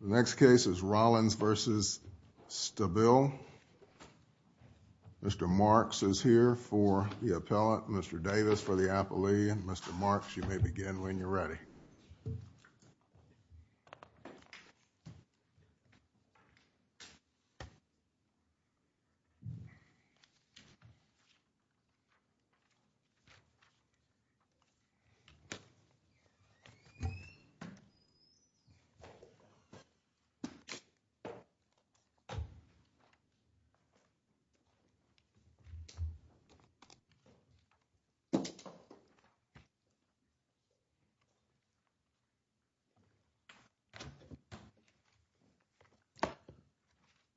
The next case is Rollins v. Stabile. Mr. Marks is here for the appellate. Mr. Davis for the appellee. Mr. Marks, you may begin when you're ready.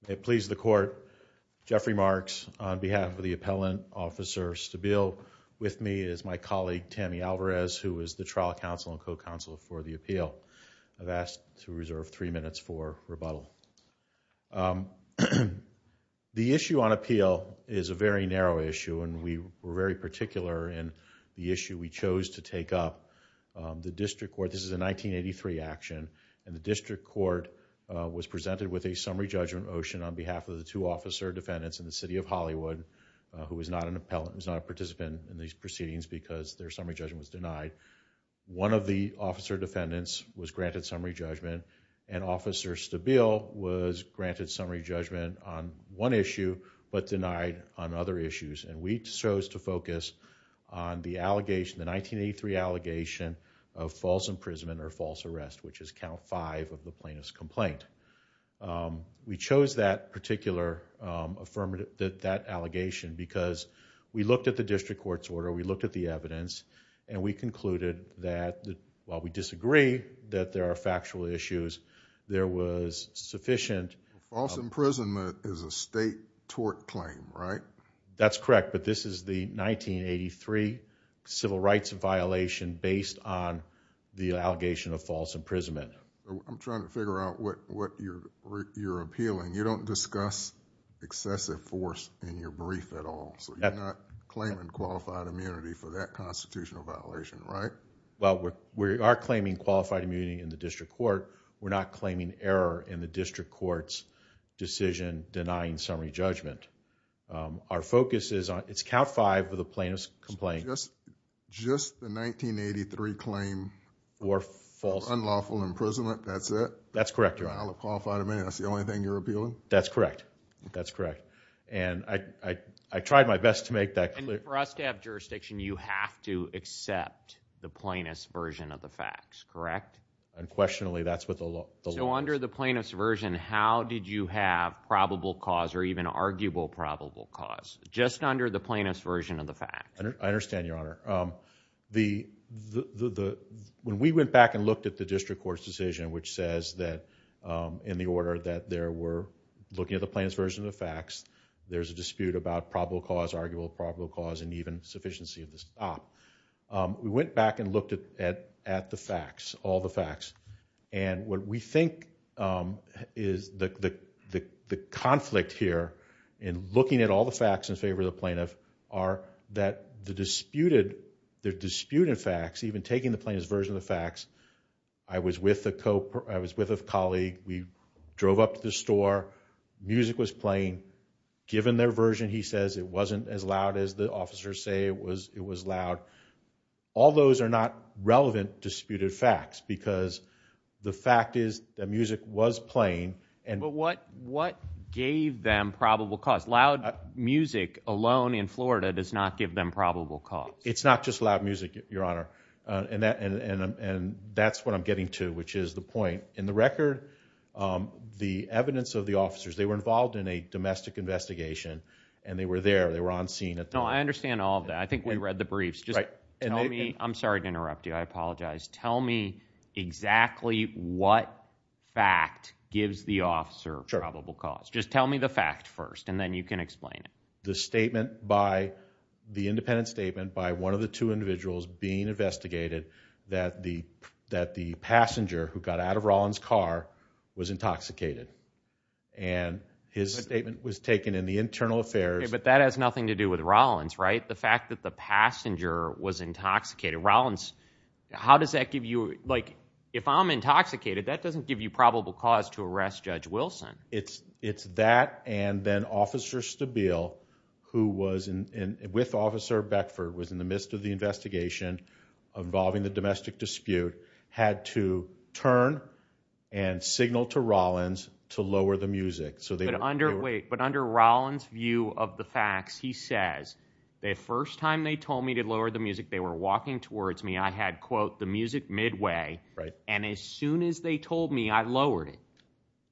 It pleases the Court, Jeffrey Marks, on behalf of the appellant, Officer Stabile. With me is my colleague, Tammy Alvarez, who is the trial counsel and co-counsel for the appeal. I've asked to reserve three minutes for rebuttal. The issue on appeal is a very narrow issue, and we were very particular in the issue we chose to take up. The District Court, this is a 1983 action, and the District Court was presented with a summary judgment motion on behalf of the two officer defendants in the City of Hollywood, who was not a participant in these proceedings because their summary judgment was denied. One of the officer defendants was granted summary judgment, and Officer Stabile was granted summary judgment on one issue but denied on other issues, and we chose to focus on the 1983 allegation of false imprisonment or false arrest, which is count five of the plaintiff's complaint. We chose that particular allegation because we looked at the District Court's order, we looked at the evidence, and we concluded that while we disagree that there are factual issues, there was sufficient... False imprisonment is a state tort claim, right? That's correct, but this is the 1983 civil rights violation based on the allegation of false imprisonment. I'm trying to figure out what you're appealing. You don't discuss excessive force in your brief at all, so you're not claiming qualified immunity for that constitutional violation, right? Well, we are claiming qualified immunity in the District Court. We're not claiming error in the District Court's decision denying summary judgment. Our focus is on... it's count five of the plaintiff's complaint. Just the 1983 claim... Or false... Unlawful imprisonment, that's it? That's correct, Your Honor. Qualified immunity, that's the only thing you're appealing? That's correct. That's correct. And I tried my best to make that clear. And for us to have jurisdiction, you have to accept the plaintiff's version of the facts, correct? Unquestionably, that's what the law... So under the plaintiff's version, how did you have probable cause or even arguable probable cause, just under the plaintiff's version of the facts? I understand, Your Honor. When we went back and looked at the District Court's decision, which says that in the order that they were looking at the plaintiff's version of the facts, there's a dispute about probable cause, arguable probable cause, and even sufficiency of the stop. We went back and looked at the facts, all the facts. And what we think is the conflict here in looking at all the facts in favor of the plaintiff are that the disputed facts, even taking the plaintiff's version of the facts, I was with a colleague, we drove up to the store, music was playing. Given their version, he says, it wasn't as loud as the officers say it was loud. All those are not relevant disputed facts because the fact is that music was playing. But what gave them probable cause? Loud music alone in Florida does not give them probable cause. It's not just loud music, Your Honor. And that's what I'm getting to, which is the point. In the record, the evidence of the officers, they were involved in a domestic investigation, and they were there, they were on scene at the time. No, I understand all of that. I think we read the briefs. I'm sorry to interrupt you, I apologize. Tell me exactly what fact gives the officer probable cause. Just tell me the fact first, and then you can explain it. The statement by, the independent statement by one of the two individuals being investigated that the passenger who got out of Rollins' car was intoxicated. And his statement was taken in the internal affairs. But that has nothing to do with Rollins, right? The fact that the passenger was intoxicated. How does that give you, like, if I'm intoxicated, that doesn't give you probable cause to arrest Judge Wilson. It's that and then Officer Stabile, who was with Officer Beckford, was in the midst of the investigation involving the domestic dispute, had to turn and signal to Rollins to lower the music. But under Rollins' view of the facts, he says, the first time they told me to lower the music, they were walking towards me. I had, quote, the music midway. And as soon as they told me, I lowered it.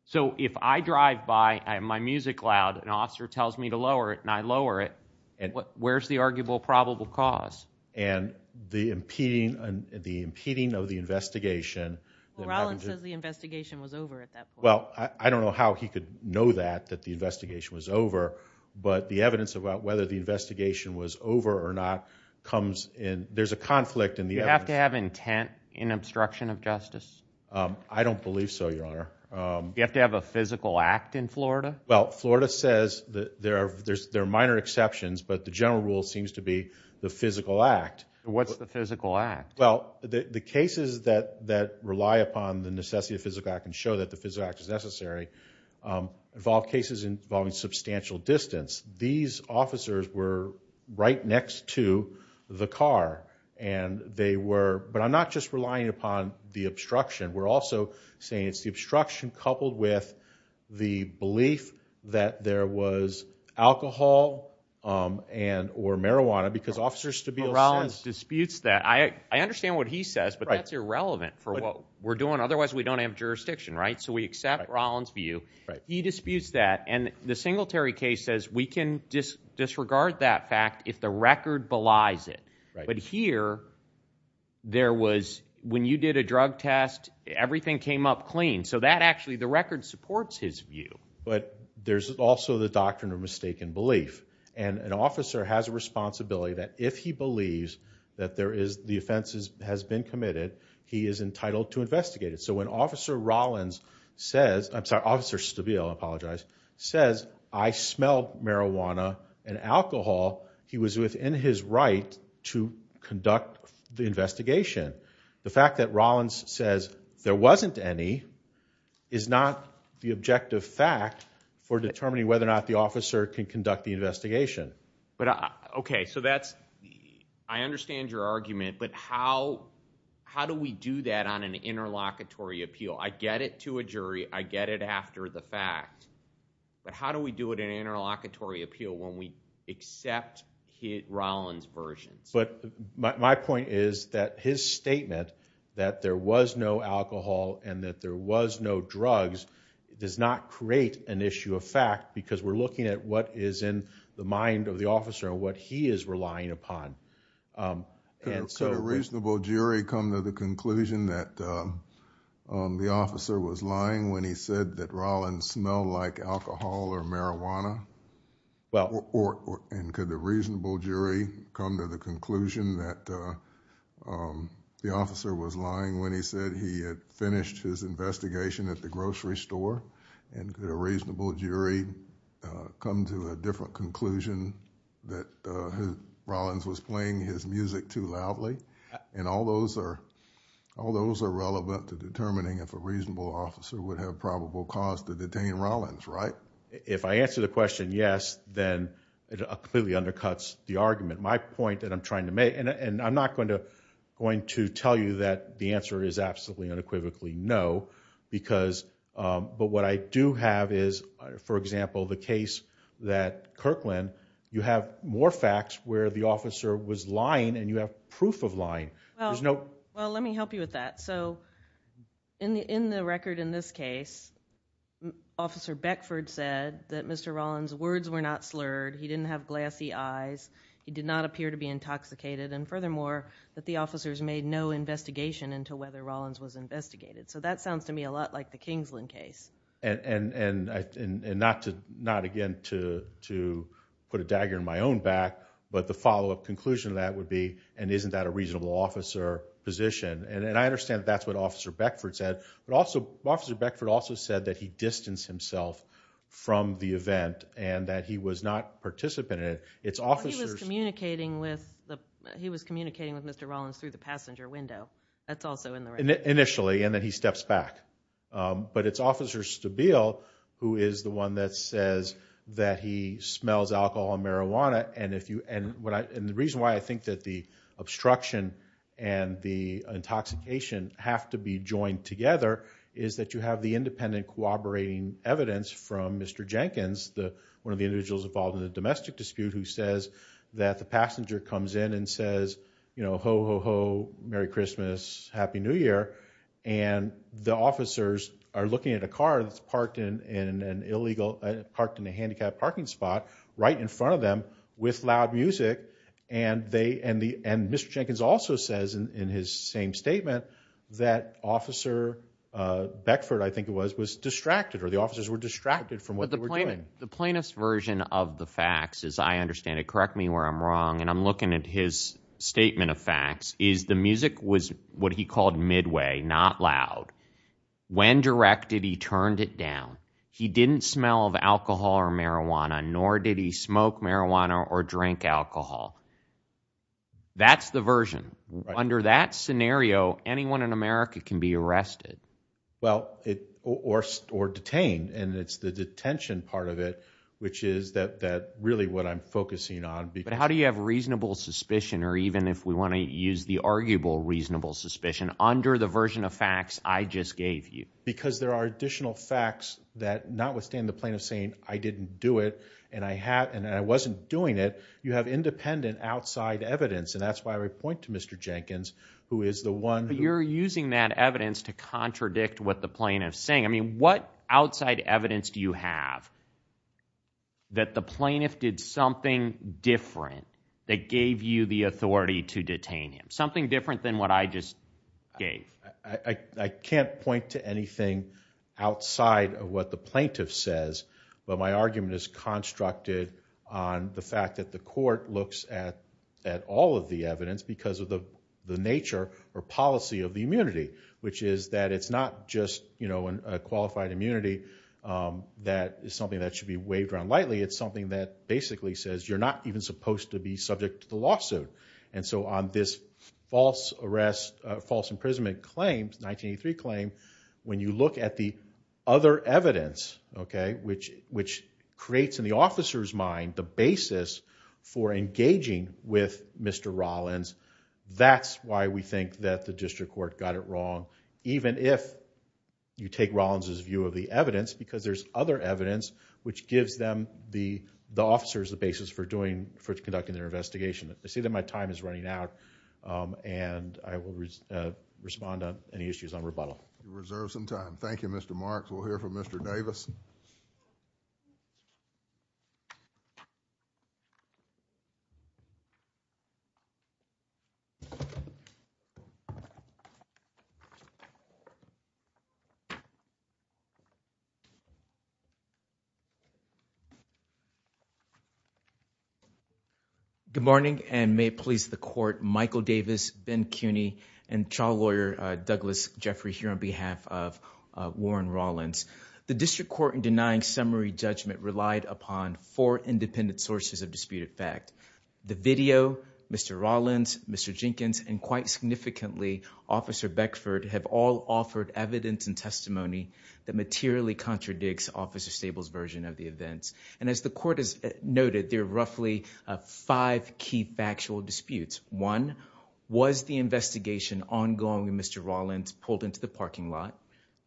So if I drive by my music loud, an officer tells me to lower it, and I lower it, where's the arguable probable cause? And the impeding of the investigation. Well, Rollins says the investigation was over at that point. Well, I don't know how he could know that, that the investigation was over. But the evidence about whether the investigation was over or not comes in. There's a conflict in the evidence. Do you have to have intent in obstruction of justice? I don't believe so, Your Honor. Do you have to have a physical act in Florida? Well, Florida says there are minor exceptions, but the general rule seems to be the physical act. What's the physical act? Well, the cases that rely upon the necessity of the physical act and show that the physical act is necessary involve cases involving substantial distance. These officers were right next to the car, and they were – but I'm not just relying upon the obstruction. We're also saying it's the obstruction coupled with the belief that there was alcohol and – or marijuana, because Officer Stabile says – Well, Rollins disputes that. I understand what he says, but that's irrelevant for what we're doing. Otherwise, we don't have jurisdiction, right? So we accept Rollins' view. He disputes that, and the Singletary case says we can disregard that fact if the record belies it. But here, there was – when you did a drug test, everything came up clean. So that actually – the record supports his view. But there's also the doctrine of mistaken belief, and an officer has a responsibility that if he believes that there is – the offense has been committed, he is entitled to investigate it. So when Officer Rollins says – I'm sorry, Officer Stabile, I apologize – says, I smelled marijuana and alcohol, he was within his right to conduct the investigation. The fact that Rollins says there wasn't any is not the objective fact for determining whether or not the officer can conduct the investigation. Okay, so that's – I understand your argument, but how do we do that on an interlocutory appeal? I get it to a jury. I get it after the fact. But how do we do it in an interlocutory appeal when we accept Rollins' versions? My point is that his statement that there was no alcohol and that there was no drugs does not create an issue of fact because we're looking at what is in the mind of the officer and what he is relying upon. Could a reasonable jury come to the conclusion that the officer was lying when he said that Rollins smelled like alcohol or marijuana? Well – And could a reasonable jury come to the conclusion that the officer was lying when he said he had finished his investigation at the grocery store? And could a reasonable jury come to a different conclusion that Rollins was playing his music too loudly? And all those are relevant to determining if a reasonable officer would have probable cause to detain Rollins, right? If I answer the question yes, then it clearly undercuts the argument. My point that I'm trying to make – and I'm not going to tell you that the answer is absolutely, unequivocally no but what I do have is, for example, the case that Kirkland, you have more facts where the officer was lying and you have proof of lying. Well, let me help you with that. So in the record in this case, Officer Beckford said that Mr. Rollins' words were not slurred, he didn't have glassy eyes, he did not appear to be intoxicated, and furthermore, that the officers made no investigation into whether Rollins was investigated. So that sounds to me a lot like the Kingsland case. And not again to put a dagger in my own back, but the follow-up conclusion to that would be, and isn't that a reasonable officer position? And I understand that's what Officer Beckford said, but Officer Beckford also said that he distanced himself from the event and that he was not participating in it. Well, he was communicating with Mr. Rollins through the passenger window. That's also in the record. Initially, and then he steps back. But it's Officer Stabile who is the one that says that he smells alcohol and marijuana, and the reason why I think that the obstruction and the intoxication have to be joined together is that you have the independent cooperating evidence from Mr. Jenkins, one of the individuals involved in the domestic dispute, who says that the passenger comes in and says, you know, ho, ho, ho, Merry Christmas, Happy New Year, and the officers are looking at a car that's parked in an illegal, parked in a handicapped parking spot right in front of them with loud music, and Mr. Jenkins also says in his same statement that Officer Beckford, I think it was, was distracted or the officers were distracted from what they were doing. The plainest version of the facts, as I understand it, correct me where I'm wrong, and I'm looking at his statement of facts, is the music was what he called midway, not loud. When directed, he turned it down. He didn't smell of alcohol or marijuana, nor did he smoke marijuana or drink alcohol. That's the version. Under that scenario, anyone in America can be arrested. Well, or detained, and it's the detention part of it, which is really what I'm focusing on. But how do you have reasonable suspicion, or even if we want to use the arguable reasonable suspicion, under the version of facts I just gave you? Because there are additional facts that notwithstanding the plaintiff saying I didn't do it, and I wasn't doing it, you have independent outside evidence, and that's why I would point to Mr. Jenkins, who is the one. But you're using that evidence to contradict what the plaintiff is saying. I mean, what outside evidence do you have that the plaintiff did something different that gave you the authority to detain him, something different than what I just gave? I can't point to anything outside of what the plaintiff says, but my argument is constructed on the fact that the court looks at all of the evidence because of the nature or policy of the immunity, which is that it's not just a qualified immunity that is something that should be waved around lightly. It's something that basically says you're not even supposed to be subject to the lawsuit. And so on this false arrest, false imprisonment claim, 1983 claim, when you look at the other evidence, which creates in the officer's mind the basis for engaging with Mr. Rollins, that's why we think that the district court got it wrong, even if you take Rollins' view of the evidence, because there's other evidence which gives them, the officers, the basis for conducting their investigation. I see that my time is running out, and I will respond to any issues on rebuttal. You reserve some time. Thank you, Mr. Marks. We'll hear from Mr. Davis. Good morning, and may it please the court, Michael Davis, Ben Cuney, and trial lawyer Douglas Jeffrey here on behalf of Warren Rollins. The district court in denying summary judgment relied upon four independent sources of disputed fact. The video, Mr. Rollins, Mr. Jenkins, and quite significantly, Officer Beckford, have all offered evidence and testimony that materially contradicts Officer Stable's version of the events. And as the court has noted, there are roughly five key factual disputes. One, was the investigation ongoing when Mr. Rollins pulled into the parking lot?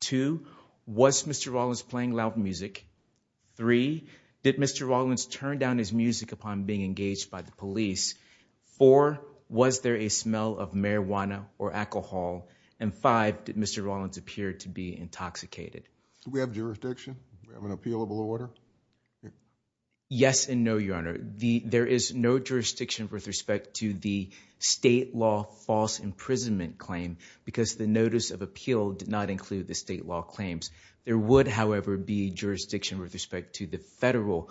Two, was Mr. Rollins playing loud music? Three, did Mr. Rollins turn down his music upon being engaged by the police? Four, was there a smell of marijuana or alcohol? And five, did Mr. Rollins appear to be intoxicated? Do we have jurisdiction? Do we have an appealable order? Yes and no, Your Honor. There is no jurisdiction with respect to the state law false imprisonment claim because the notice of appeal did not include the state law claims. There would, however, be jurisdiction with respect to the federal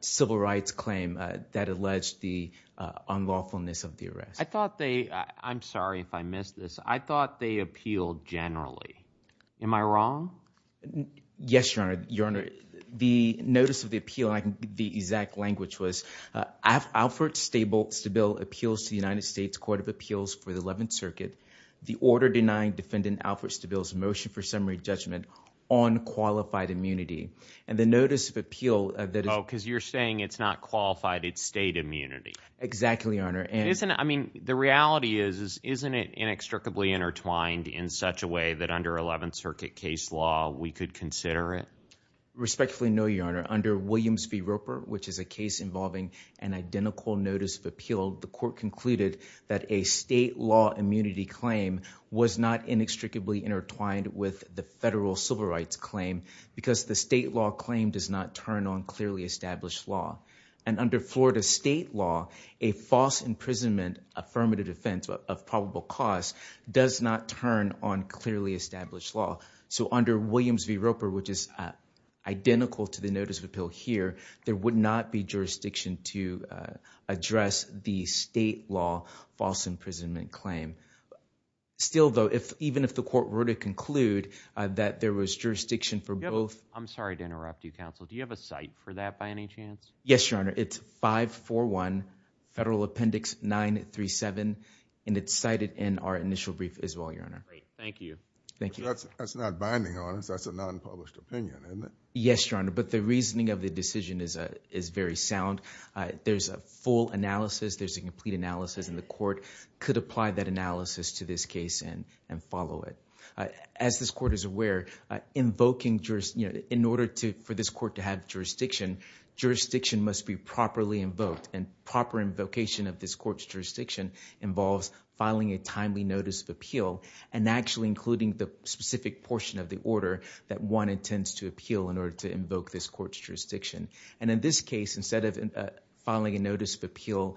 civil rights claim that alleged the unlawfulness of the arrest. I thought they – I'm sorry if I missed this – I thought they appealed generally. Am I wrong? Yes, Your Honor. Your Honor, the notice of the appeal, the exact language was Alfred Stable appeals to the United States Court of Appeals for the 11th Circuit. The order denying Defendant Alfred Stable's motion for summary judgment on qualified immunity. And the notice of appeal that is – Oh, because you're saying it's not qualified, it's state immunity. Exactly, Your Honor. I mean, the reality is isn't it inextricably intertwined in such a way that under 11th Circuit case law we could consider it? Respectfully no, Your Honor. Under Williams v. Roper, which is a case involving an identical notice of appeal, the court concluded that a state law immunity claim was not inextricably intertwined with the federal civil rights claim because the state law claim does not turn on clearly established law. And under Florida state law, a false imprisonment affirmative defense of probable cause does not turn on clearly established law. So under Williams v. Roper, which is identical to the notice of appeal here, there would not be jurisdiction to address the state law false imprisonment claim. Still, though, even if the court were to conclude that there was jurisdiction for both – I'm sorry to interrupt you, counsel. Do you have a cite for that by any chance? Yes, Your Honor. It's 541 Federal Appendix 937, and it's cited in our initial brief as well, Your Honor. Great. Thank you. That's not binding on us. That's a nonpublished opinion, isn't it? Yes, Your Honor. But the reasoning of the decision is very sound. There's a full analysis. There's a complete analysis, and the court could apply that analysis to this case and follow it. As this court is aware, in order for this court to have jurisdiction, jurisdiction must be properly invoked, and proper invocation of this court's jurisdiction involves filing a timely notice of appeal and actually including the specific portion of the order that one intends to appeal in order to invoke this court's jurisdiction. And in this case, instead of filing a notice of appeal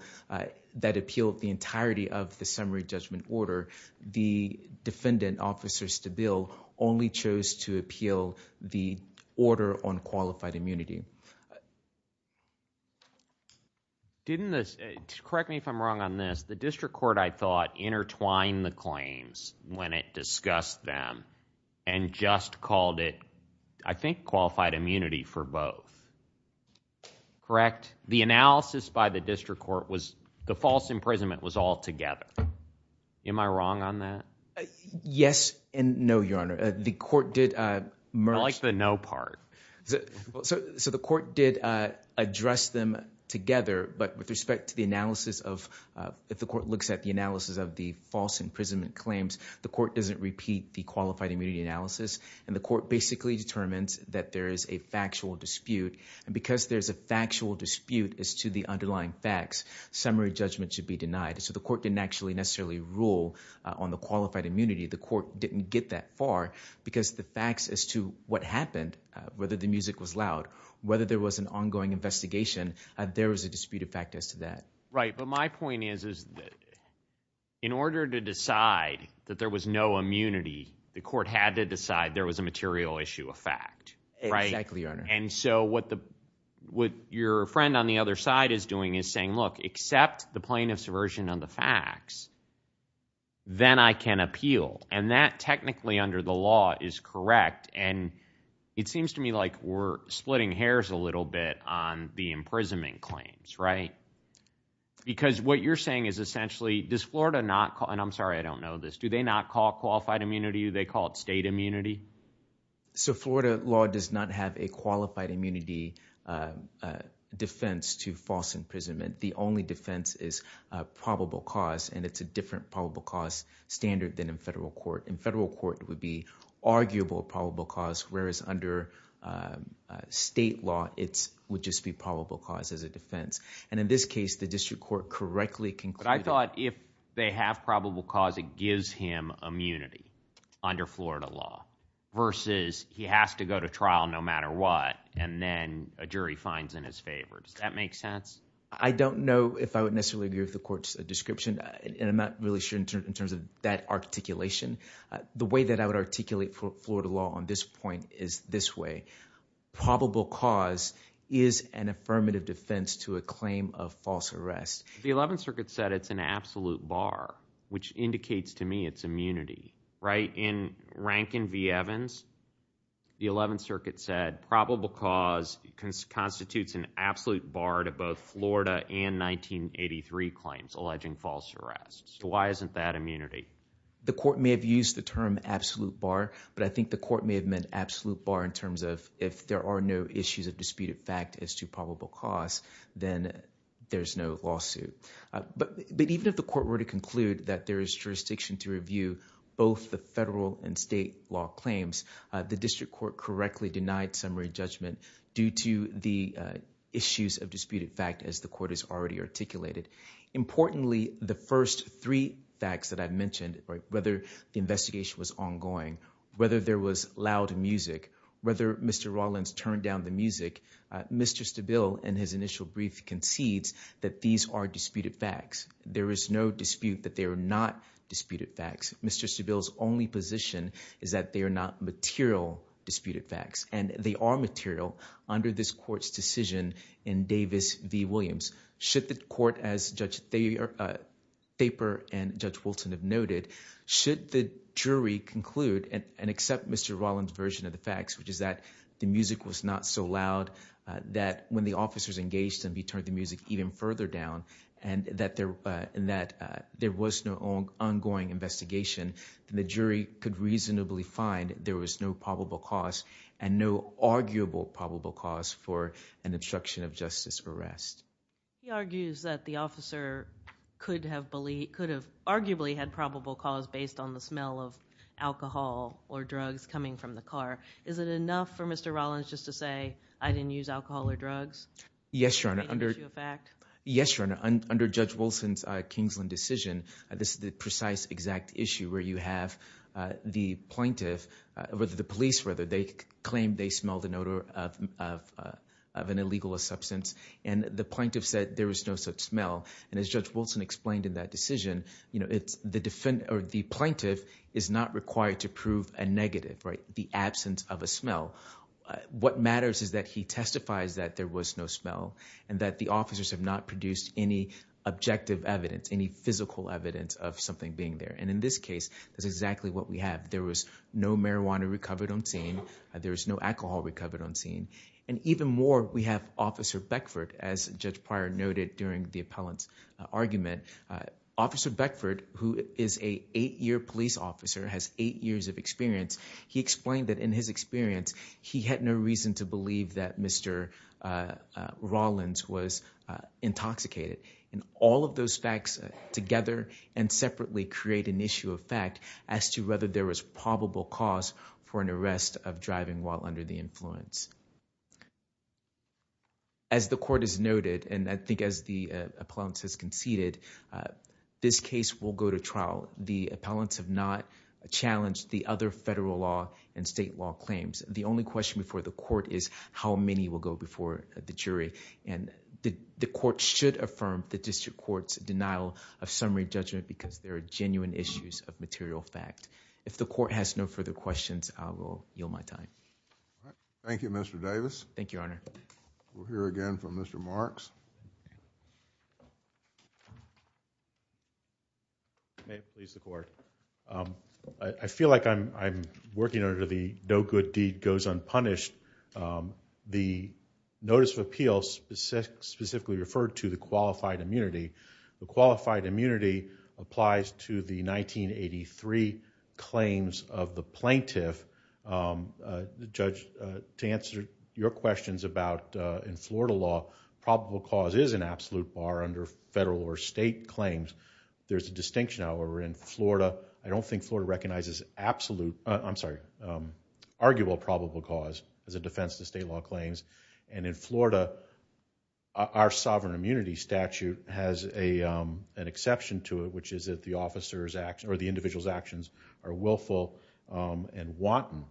that appealed the entirety of the summary judgment order, the defendant, Officer Stabile, only chose to appeal the order on qualified immunity. Didn't this, correct me if I'm wrong on this, the district court, I thought, intertwined the claims when it discussed them and just called it, I think, qualified immunity for both. Correct? The analysis by the district court was the false imprisonment was altogether. Am I wrong on that? Yes and no, Your Honor. I like the no part. So the court did address them together, but with respect to the analysis of, if the court looks at the analysis of the false imprisonment claims, the court doesn't repeat the qualified immunity analysis, and the court basically determines that there is a factual dispute, and because there's a factual dispute as to the underlying facts, summary judgment should be denied. So the court didn't actually necessarily rule on the qualified immunity. The court didn't get that far because the facts as to what happened, whether the music was loud, whether there was an ongoing investigation, there was a disputed fact as to that. Right, but my point is that in order to decide that there was no immunity, the court had to decide there was a material issue of fact. Exactly, Your Honor. And so what your friend on the other side is doing is saying, look, except the plaintiff's version of the facts, then I can appeal, and that technically under the law is correct, and it seems to me like we're splitting hairs a little bit on the imprisonment claims, right? Because what you're saying is essentially, does Florida not – and I'm sorry, I don't know this – do they not call it qualified immunity? Do they call it state immunity? So Florida law does not have a qualified immunity defense to false imprisonment. The only defense is probable cause, and it's a different probable cause standard than in federal court. In federal court, it would be arguable probable cause, whereas under state law, it would just be probable cause as a defense. And in this case, the district court correctly concluded – versus he has to go to trial no matter what, and then a jury finds in his favor. Does that make sense? I don't know if I would necessarily agree with the court's description, and I'm not really sure in terms of that articulation. The way that I would articulate Florida law on this point is this way. Probable cause is an affirmative defense to a claim of false arrest. The Eleventh Circuit said it's an absolute bar, which indicates to me it's immunity, right? In Rankin v. Evans, the Eleventh Circuit said probable cause constitutes an absolute bar to both Florida and 1983 claims alleging false arrests. So why isn't that immunity? The court may have used the term absolute bar, but I think the court may have meant absolute bar in terms of if there are no issues of disputed fact as to probable cause, then there's no lawsuit. But even if the court were to conclude that there is jurisdiction to review both the federal and state law claims, the district court correctly denied summary judgment due to the issues of disputed fact, as the court has already articulated. Importantly, the first three facts that I've mentioned, whether the investigation was ongoing, whether there was loud music, whether Mr. Rawlins turned down the music, Mr. Stabile, in his initial brief, concedes that these are disputed facts. There is no dispute that they are not disputed facts. Mr. Stabile's only position is that they are not material disputed facts, and they are material under this court's decision in Davis v. Williams. Should the court, as Judge Thaper and Judge Wilson have noted, should the jury conclude and accept Mr. Rawlins' version of the facts, which is that the music was not so loud, that when the officers engaged them, he turned the music even further down, and that there was no ongoing investigation, then the jury could reasonably find there was no probable cause and no arguable probable cause for an obstruction of justice arrest. He argues that the officer could have arguably had probable cause based on the smell of alcohol or drugs coming from the car. Is it enough for Mr. Rawlins just to say, I didn't use alcohol or drugs? Yes, Your Honor. Is that an issue of fact? Yes, Your Honor. Under Judge Wilson's Kingsland decision, this is the precise exact issue where you have the plaintiff, or the police, whether they claim they smell the odor of an illegal substance, and the plaintiff said there was no such smell. And as Judge Wilson explained in that decision, the plaintiff is not required to prove a negative, the absence of a smell. What matters is that he testifies that there was no smell and that the officers have not produced any objective evidence, any physical evidence of something being there. And in this case, that's exactly what we have. There was no marijuana recovered on scene. There was no alcohol recovered on scene. And even more, we have Officer Beckford, as Judge Pryor noted during the appellant's argument. Officer Beckford, who is an eight-year police officer, has eight years of experience. He explained that in his experience, he had no reason to believe that Mr. Rawlins was intoxicated. And all of those facts together and separately create an issue of fact as to whether there was probable cause for an arrest of driving while under the influence. As the court has noted, and I think as the appellant has conceded, this case will go to trial. The appellants have not challenged the other federal law and state law claims. The only question before the court is how many will go before the jury. And the court should affirm the district court's denial of summary judgment because there are genuine issues of material fact. If the court has no further questions, I will yield my time. Thank you, Mr. Davis. Thank you, Your Honor. We'll hear again from Mr. Marks. May it please the court. I feel like I'm working under the no good deed goes unpunished. The notice of appeals specifically referred to the qualified immunity. The qualified immunity applies to the 1983 claims of the plaintiff. Judge, to answer your questions about in Florida law, probable cause is an absolute bar under federal or state claims. There's a distinction, however, in Florida. I don't think Florida recognizes arguable probable cause as a defense to state law claims. And in Florida, our sovereign immunity statute has an exception to it, which is that the individual's actions are willful and wanton.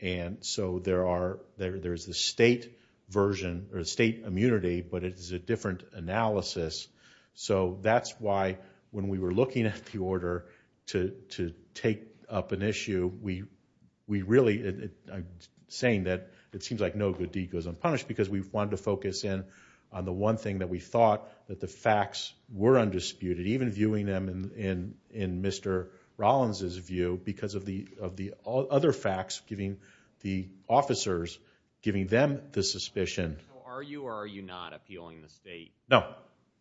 And so there is the state immunity, but it is a different analysis. So that's why when we were looking at the order to take up an issue, we really are saying that it seems like no good deed goes unpunished because we wanted to focus in on the one thing that we thought that the facts were undisputed, even viewing them in Mr. Rollins' view because of the other facts, giving the officers, giving them the suspicion. So are you or are you not appealing the state? No,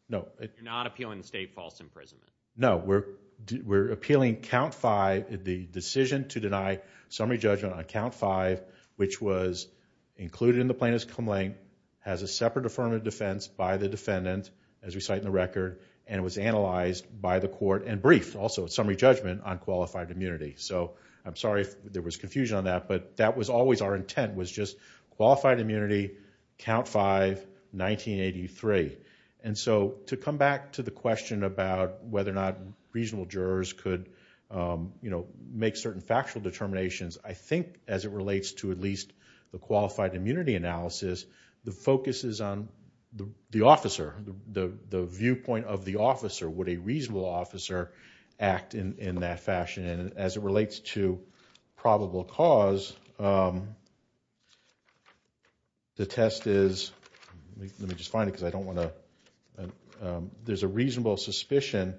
no. You're not appealing the state false imprisonment? No, we're appealing Count 5, the decision to deny summary judgment on Count 5, which was included in the plaintiff's complaint, has a separate affirmative defense by the defendant, as we cite in the record, and was analyzed by the court and briefed, also, at summary judgment on qualified immunity. So I'm sorry if there was confusion on that, but that was always our intent, was just qualified immunity, Count 5, 1983. And so to come back to the question about whether or not reasonable jurors could make certain factual determinations, I think as it relates to at least the qualified immunity analysis, the focus is on the officer, the viewpoint of the officer. Would a reasonable officer act in that fashion? And as it relates to probable cause, the test is, let me just find it because I don't want to, there's a reasonable suspicion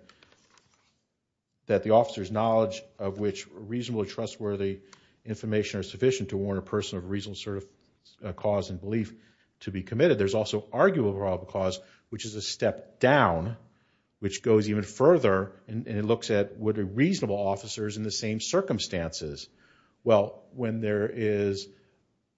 that the officer's knowledge of which reasonable, trustworthy information are sufficient to warrant a person of reasonable sort of cause and belief to be committed. There's also arguable probable cause, which is a step down, which goes even further, and it looks at would reasonable officers in the same circumstances, well, when there is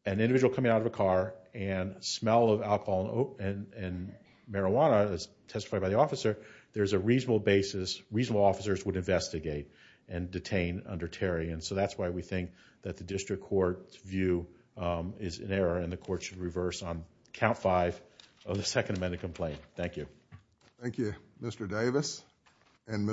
an individual coming out of a car and smell of alcohol and marijuana as testified by the officer, there's a reasonable basis, reasonable officers would investigate and detain under Terry. And so that's why we think that the district court's view is in error and the court should reverse on Count 5 of the Second Amendment complaint. Thank you. Thank you, Mr. Davis and Mr. Marks.